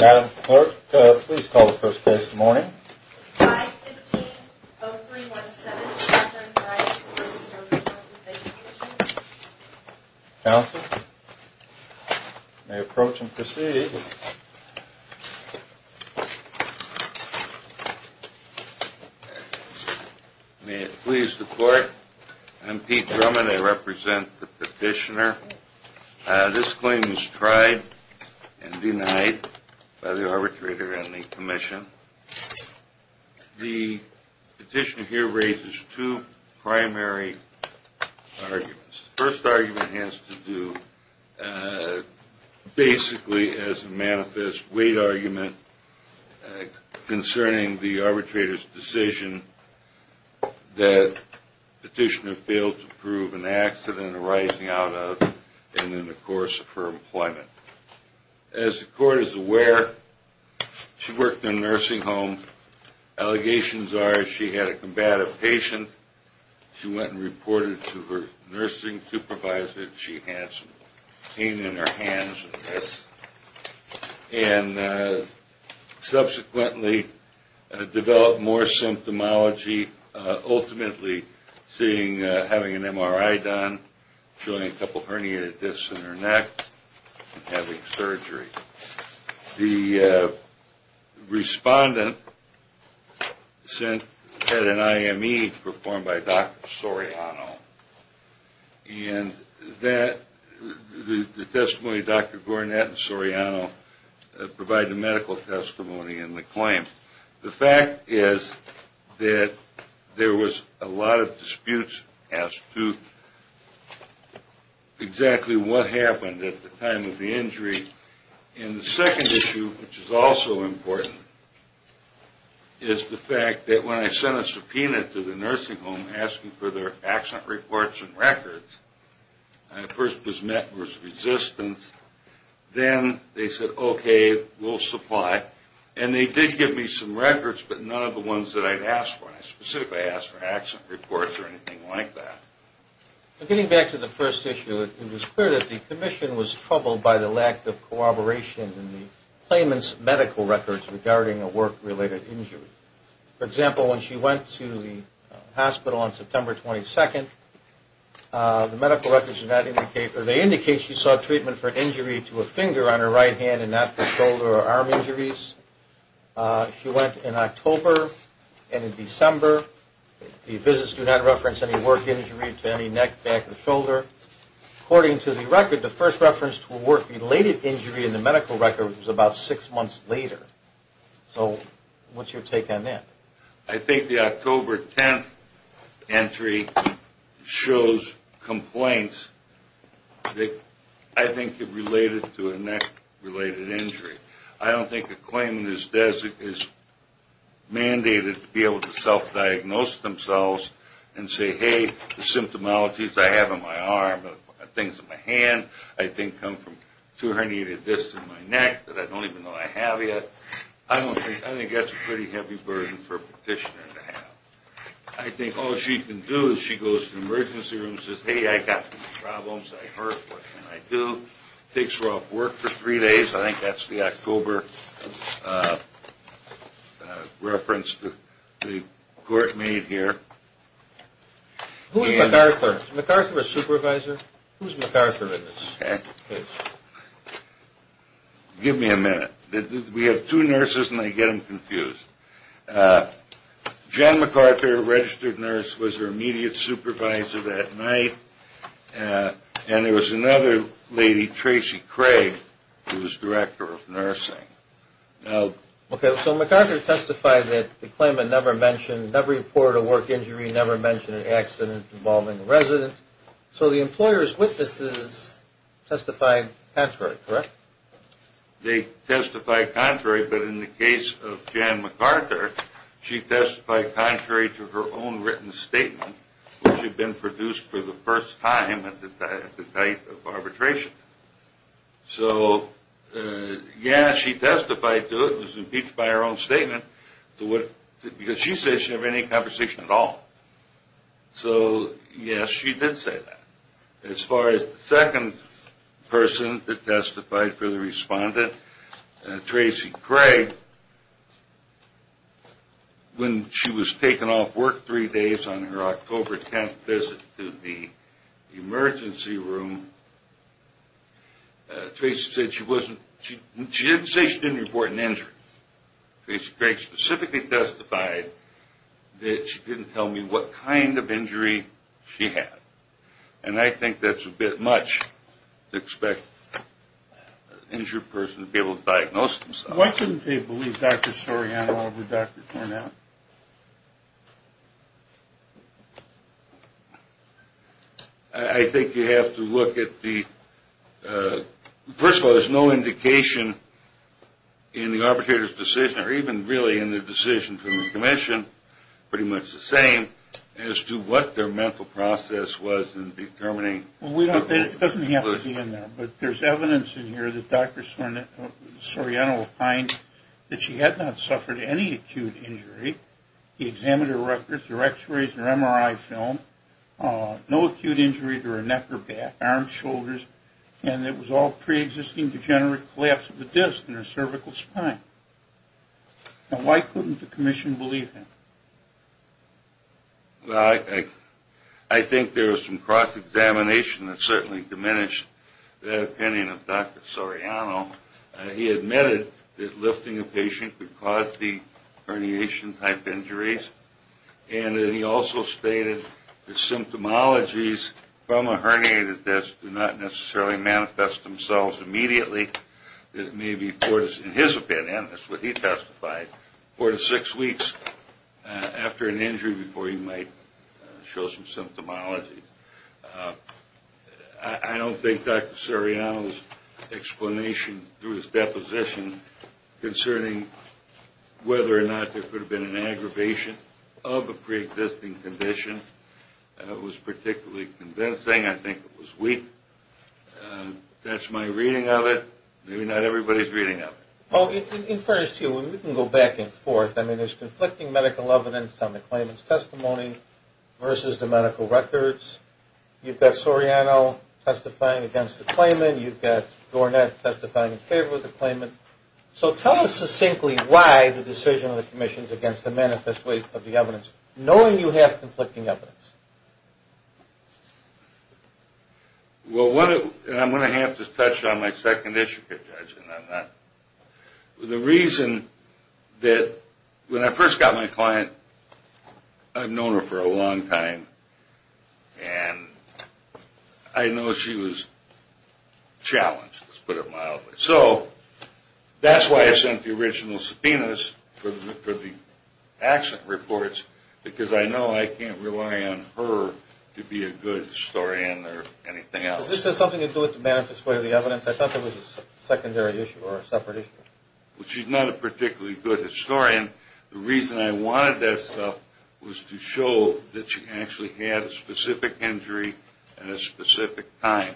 Madam Clerk, please call the first case of the morning. 5-15-03-1-7. Counsel, you may approach and proceed. May it please the court, I'm Pete Drummond, I represent the petitioner. This claim is tried and denied by the arbitrator and the commission. The petitioner here raises two primary arguments. The first argument has to do basically as a manifest weight argument concerning the arbitrator's decision that the petitioner failed to prove an accident arising out of and in the course of her employment. As the court is aware, she worked in a nursing home. Allegations are she had a combative patient, she went and reported to her nursing supervisor that she had some pain in her hands and subsequently developed more symptomology, ultimately having an MRI done, showing a couple herniated discs in her neck and having surgery. The respondent had an IME performed by Dr. Soriano. And the testimony of Dr. Soriano provided medical testimony in the claim. The fact is that there was a lot of disputes as to exactly what happened at the time of the injury. And the second issue, which is also important, is the fact that when I sent a subpoena to the nursing home asking for their accident reports and records, I first was met with resistance. Then they said, okay, we'll supply. And they did give me some records, but none of the ones that I'd asked for. I specifically asked for accident reports or anything like that. Getting back to the first issue, it was clear that the commission was troubled by the lack of cooperation in the claimant's medical records regarding a work-related injury. For example, when she went to the hospital on September 22nd, the medical records do not indicate or they indicate she sought treatment for an injury to a finger on her right hand and not for shoulder or arm injuries. She went in October and in December. The visits do not reference any work injury to any neck, back, or shoulder. According to the record, the first reference to a work-related injury in the medical records was about six months later. So what's your take on that? I think the October 10th entry shows complaints that I think are related to a neck-related injury. I don't think a claimant is mandated to be able to self-diagnose themselves and say, hey, the symptomalities I have on my arm, things on my hand, I think come from two herniated discs in my neck that I don't even know I have yet. I think that's a pretty heavy burden for a petitioner to have. I think all she can do is she goes to the emergency room and says, hey, I've got problems, I hurt, what can I do? Takes her off work for three days. I think that's the October reference the court made here. Who's MacArthur? Is MacArthur a supervisor? Who's MacArthur in this case? Give me a minute. We have two nurses and I get them confused. Jen MacArthur, a registered nurse, was her immediate supervisor that night. And there was another lady, Tracy Craig, who was director of nursing. Okay, so MacArthur testified that the claimant never mentioned, never reported a work injury, never mentioned an accident involving a resident. So the employer's witnesses testified contrary, correct? They testified contrary, but in the case of Jen MacArthur, she testified contrary to her own written statement, which had been produced for the first time at the height of arbitration. So, yeah, she testified to it. It was impeached by her own statement because she said she didn't have any conversation at all. So, yes, she did say that. As far as the second person that testified for the respondent, Tracy Craig, when she was taken off work three days on her October 10th visit to the emergency room, Tracy said she didn't say she didn't report an injury. Tracy Craig specifically testified that she didn't tell me what kind of injury she had. And I think that's a bit much to expect an injured person to be able to diagnose themselves. Why couldn't they believe Dr. Soriano over Dr. Tornow? I think you have to look at the, first of all, there's no indication in the arbitrator's decision, or even really in the decision from the commission, pretty much the same, as to what their mental process was in determining. Well, it doesn't have to be in there. But there's evidence in here that Dr. Soriano opined that she had not suffered any acute injury. He examined her records, her x-rays, her MRI film. No acute injury to her neck or back, arms, shoulders. And it was all preexisting degenerative collapse of the disc in her cervical spine. Now, why couldn't the commission believe him? Well, I think there was some cross-examination that certainly diminished that opinion of Dr. Soriano. He admitted that lifting a patient could cause the herniation-type injuries. And he also stated that symptomologies from a herniated disc do not necessarily manifest themselves immediately. It may be, in his opinion, that's what he testified, four to six weeks after an injury before you might show some symptomology. I don't think Dr. Soriano's explanation through his deposition concerning whether or not there could have been an aggravation of a preexisting condition was particularly convincing. I think it was weak. That's my reading of it. Maybe not everybody's reading of it. Well, in fairness to you, we can go back and forth. I mean, there's conflicting medical evidence on the claimant's testimony versus the medical records. You've got Soriano testifying against the claimant. You've got Dornett testifying in favor of the claimant. So tell us succinctly why the decision of the commission's against the manifest weight of the evidence, knowing you have conflicting evidence. Well, I'm going to have to touch on my second issue, Judge. The reason that when I first got my client, I've known her for a long time, and I know she was challenged, let's put it mildly. So that's why I sent the original subpoenas for the accident reports, because I know I can't rely on her to be a good historian or anything else. Is this something to do with the manifest weight of the evidence? I thought that was a secondary issue or a separate issue. Well, she's not a particularly good historian. The reason I wanted that stuff was to show that she actually had a specific injury at a specific time.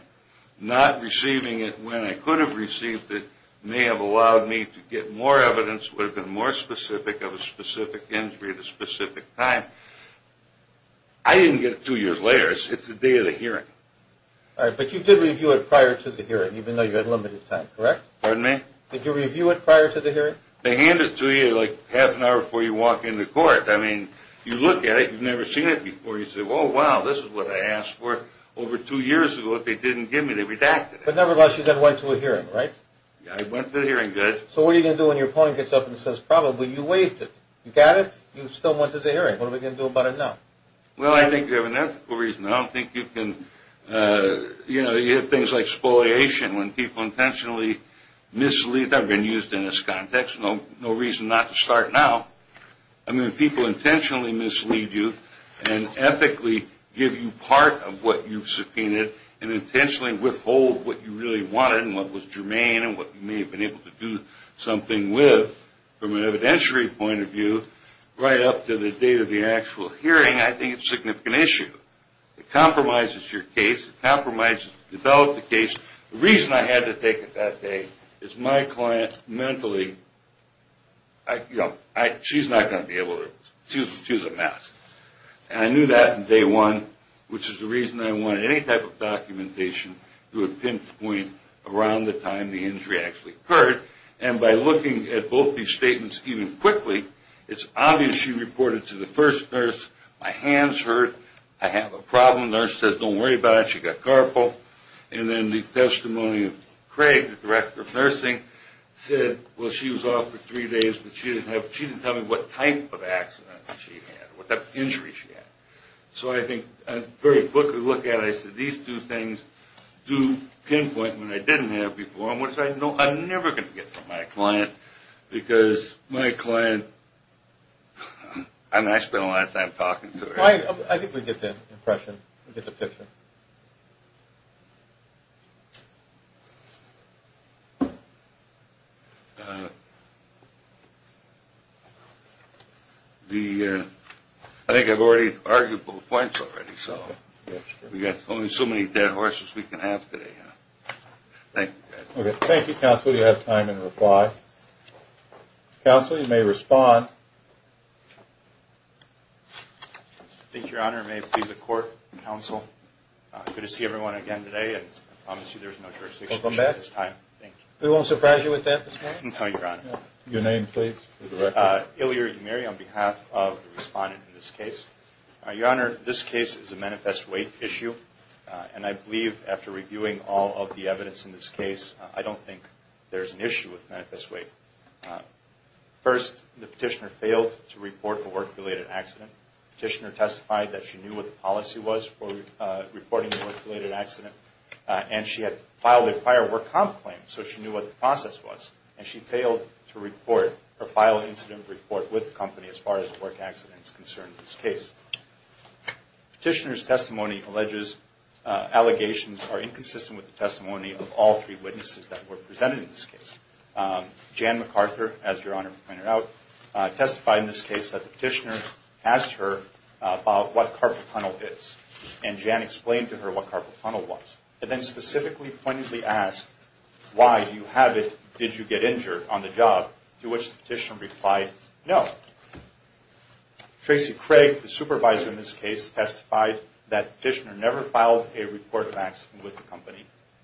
Not receiving it when I could have received it may have allowed me to get more evidence, would have been more specific of a specific injury at a specific time. I didn't get it two years later. It's the day of the hearing. All right, but you did review it prior to the hearing, even though you had limited time, correct? Pardon me? Did you review it prior to the hearing? They hand it to you like half an hour before you walk into court. I mean, you look at it. You've never seen it before. You say, well, wow, this is what I asked for. Over two years ago, if they didn't give me, they redacted it. But nevertheless, you then went to a hearing, right? Yeah, I went to the hearing, yes. So what are you going to do when your opponent gets up and says, probably you waived it? You got it? You still went to the hearing. What are we going to do about it now? Well, I think you have an ethical reason. I don't think you can, you know, you have things like spoliation when people intentionally mislead. I've been used in this context. No reason not to start now. I mean, people intentionally mislead you and ethically give you part of what you've subpoenaed and intentionally withhold what you really wanted and what was germane and what you may have been able to do something with from an evidentiary point of view right up to the date of the actual hearing, I think it's a significant issue. It compromises your case. It compromises the development of the case. The reason I had to take it that day is my client mentally, you know, she's not going to be able to choose a mask. And I knew that from day one, which is the reason I wanted any type of documentation to a pinpoint around the time the injury actually occurred. And by looking at both these statements even quickly, it's obvious she reported to the first nurse, my hands hurt, I have a problem, the nurse said don't worry about it, she got carpal. And then the testimony of Craig, the director of nursing, said, well, she was off for three days but she didn't tell me what type of accident she had or what type of injury she had. So I think a very quick look at it, I said these two things do pinpoint what I didn't have before and what I know I'm never going to get from my client because my client, I mean, I spent a lot of time talking to her. I think we get the impression, we get the picture. I think I've already argued both points already. We've got only so many dead horses we can have today. Thank you, guys. Okay, thank you, counsel. You have time in reply. Counsel, you may respond. Thank you, Your Honor. May it please the court and counsel, good to see everyone again today. And I promise you there's no jurisdiction at this time. Welcome back. Thank you. We won't surprise you with that this morning? No, Your Honor. Your name, please, for the record. Ilya Umeri on behalf of the respondent in this case. Your Honor, this case is a manifest weight issue. And I believe after reviewing all of the evidence in this case, I don't think there's an issue with manifest weight. First, the petitioner failed to report a work-related accident. The petitioner testified that she knew what the policy was for reporting a work-related accident. And she had filed a prior work comp claim, so she knew what the process was. And she failed to report or file an incident report with the company as far as work accident is concerned in this case. The petitioner's testimony alleges allegations are inconsistent with the practices that were presented in this case. Jan McArthur, as Your Honor pointed out, testified in this case that the petitioner asked her about what carpal tunnel is. And Jan explained to her what carpal tunnel was. And then specifically pointedly asked, why do you have it? Did you get injured on the job? To which the petitioner replied, no. Tracy Craig, the supervisor in this case, testified that the petitioner never filed a report of accident with the company.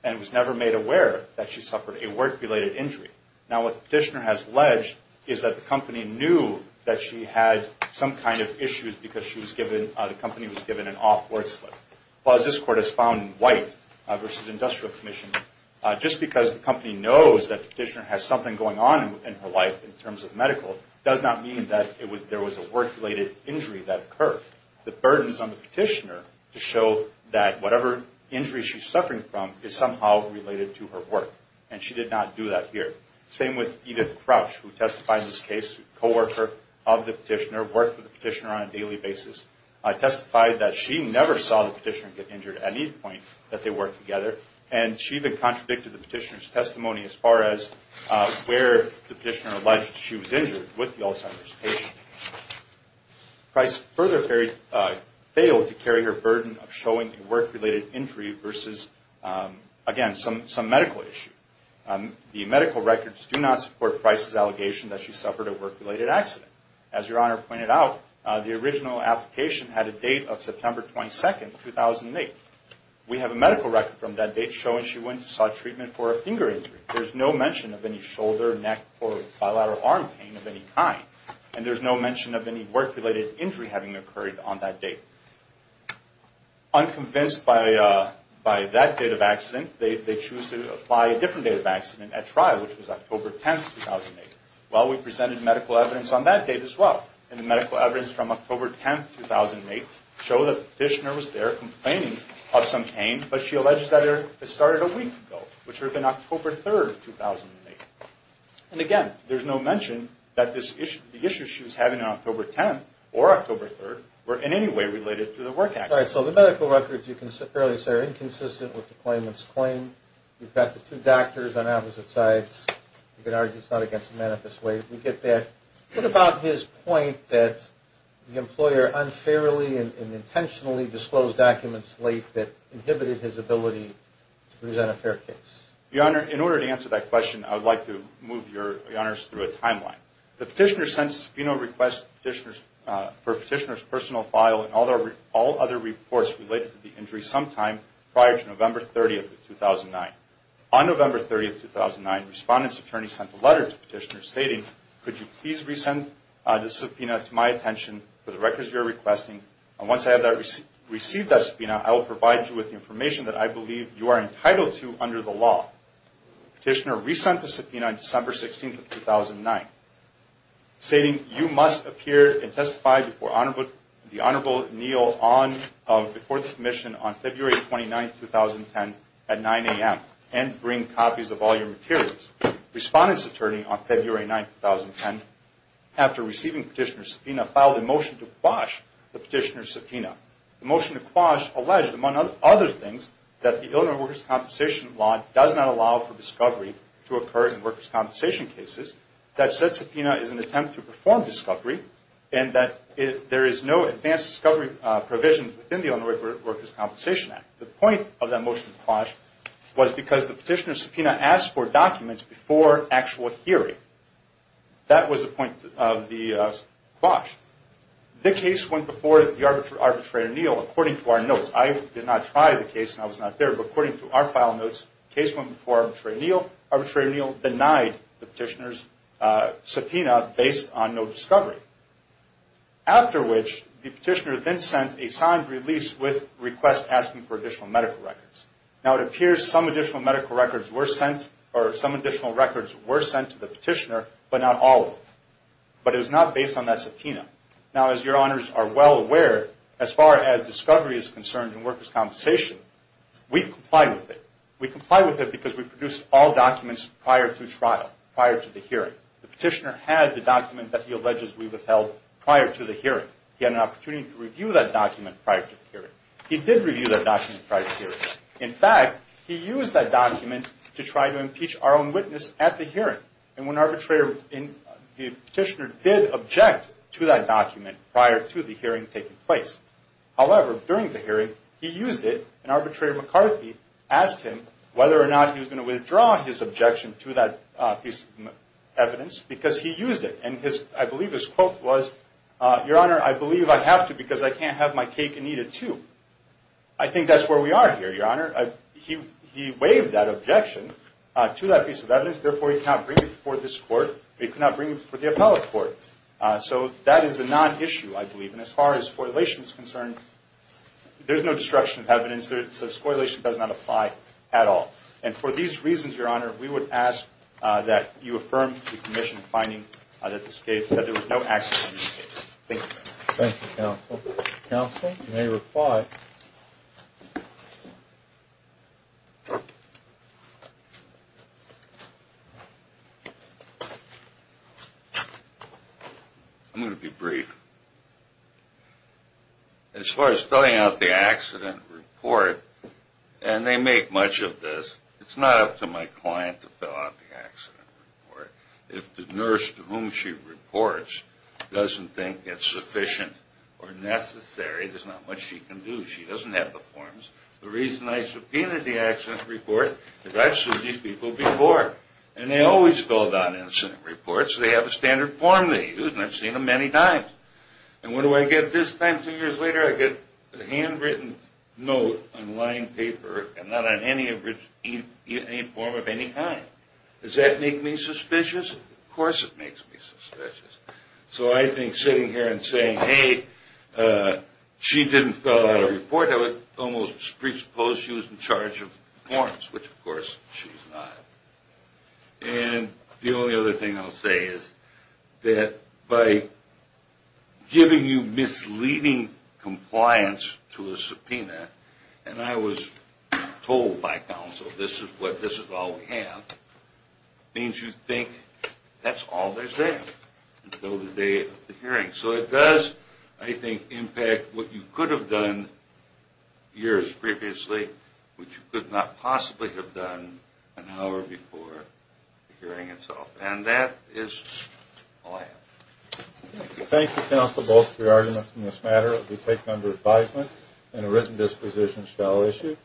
She testified that she suffered a work-related injury. Now what the petitioner has alleged is that the company knew that she had some kind of issues because she was given, the company was given an off work slip. As this court has found in White v. Industrial Commission, just because the company knows that the petitioner has something going on in her life in terms of medical does not mean that there was a work-related injury that occurred. The burden is on the petitioner to show that whatever injury she's suffering from is somehow related to her work. And she did not do that here. Same with Edith Crouch, who testified in this case, co-worker of the petitioner, worked with the petitioner on a daily basis, testified that she never saw the petitioner get injured at any point that they worked together. And she even contradicted the petitioner's testimony as far as where the petitioner alleged she was injured with the Alzheimer's patient. Price further failed to carry her burden of showing a work-related injury versus, again, some medical issue. The medical records do not support Price's allegation that she suffered a work-related accident. As Your Honor pointed out, the original application had a date of September 22, 2008. We have a medical record from that date showing she went and saw treatment for a finger injury. There's no mention of any shoulder, neck, or bilateral arm pain of any kind. And there's no mention of any work-related injury having occurred on that date. Unconvinced by that date of accident, they choose to apply a different date of accident at trial, which was October 10, 2008. Well, we presented medical evidence on that date as well. And the medical evidence from October 10, 2008 show that the petitioner was there complaining of some pain, but she alleged that it started a week ago, which would have been October 3, 2008. And, again, there's no mention that the issues she was having on October 10 or October 3 were in any way related to the work accident. All right. So the medical records, you can fairly say, are inconsistent with the claimant's claim. You've got the two doctors on opposite sides. You can argue it's not against the manifest way. We get that. What about his point that the employer unfairly and intentionally disclosed documents late that inhibited his ability to present a fair case? Your Honor, in order to answer that question, I would like to move Your Honors through a timeline. The petitioner sent a subpoena request for a petitioner's personal file and all other reports related to the injury sometime prior to November 30, 2009. On November 30, 2009, respondent's attorney sent a letter to the petitioner stating, could you please resend the subpoena to my attention for the records you are requesting? And once I have received that subpoena, I will provide you with the information that I believe you are entitled to under the law. Petitioner resend the subpoena on December 16, 2009, stating you must appear and testify before the Honorable Neal of the Court of Commission on February 29, 2010 at 9 a.m. and bring copies of all your materials. Respondent's attorney on February 9, 2010, after receiving petitioner's subpoena, filed a motion to quash the petitioner's subpoena. The motion to quash alleged, among other things, that the Illinois Workers' Compensation Law does not allow for discovery to occur in workers' compensation cases, that said subpoena is an attempt to perform discovery, and that there is no advanced discovery provision within the Illinois Workers' Compensation Act. The point of that motion to quash was because the petitioner's subpoena asked for documents before actual hearing. That was the point of the quash. I did not try the case and I was not there, but according to our file notes, the case went before Arbitrary Neal. Arbitrary Neal denied the petitioner's subpoena based on no discovery. After which, the petitioner then sent a signed release with requests asking for additional medical records. Now, it appears some additional medical records were sent, or some additional records were sent to the petitioner, but not all of them. But it was not based on that subpoena. Now, as your honors are well aware, as far as discovery is concerned in workers' compensation, we comply with it. We comply with it because we produced all documents prior to trial, prior to the hearing. The petitioner had the document that he alleges we withheld prior to the hearing. He had an opportunity to review that document prior to the hearing. He did review that document prior to the hearing. In fact, he used that document to try to impeach our own witness at the hearing. And the petitioner did object to that document prior to the hearing taking place. However, during the hearing, he used it, and Arbitrary McCarthy asked him whether or not he was going to withdraw his objection to that piece of evidence because he used it. And I believe his quote was, your honor, I believe I have to because I can't have my cake and eat it too. I think that's where we are here, your honor. He waived that objection to that piece of evidence. Therefore, he cannot bring it before this court. He cannot bring it before the appellate court. So that is a non-issue, I believe. And as far as scorrelation is concerned, there's no destruction of evidence. Scorrelation does not apply at all. And for these reasons, your honor, we would ask that you affirm the commission finding that there was no access to this case. Thank you. Thank you, counsel. Counsel may reply. I'm going to be brief. As far as filling out the accident report, and they make much of this, it's not up to my client to fill out the accident report. If the nurse to whom she reports doesn't think it's sufficient or necessary, there's not much she can do. She doesn't have the forms. The reason I subpoenaed the accident report is I've seen these people before. And they always filled out incident reports. They have a standard form they use, and I've seen them many times. And what do I get this time two years later? I get a handwritten note on lined paper and not on any form of any kind. Does that make me suspicious? Of course it makes me suspicious. So I think sitting here and saying, hey, she didn't fill out a report, I would almost presuppose she was in charge of forms, which, of course, she's not. And the only other thing I'll say is that by giving you misleading compliance to a subpoena, and I was told by counsel, this is all we have, means you think that's all there's there until the day of the hearing. So it does, I think, impact what you could have done years previously, which you could not possibly have done an hour before the hearing itself. And that is all I have. Thank you. Thank you, counsel, both for your arguments in this matter. We take them under advisement and a written disposition shall issue.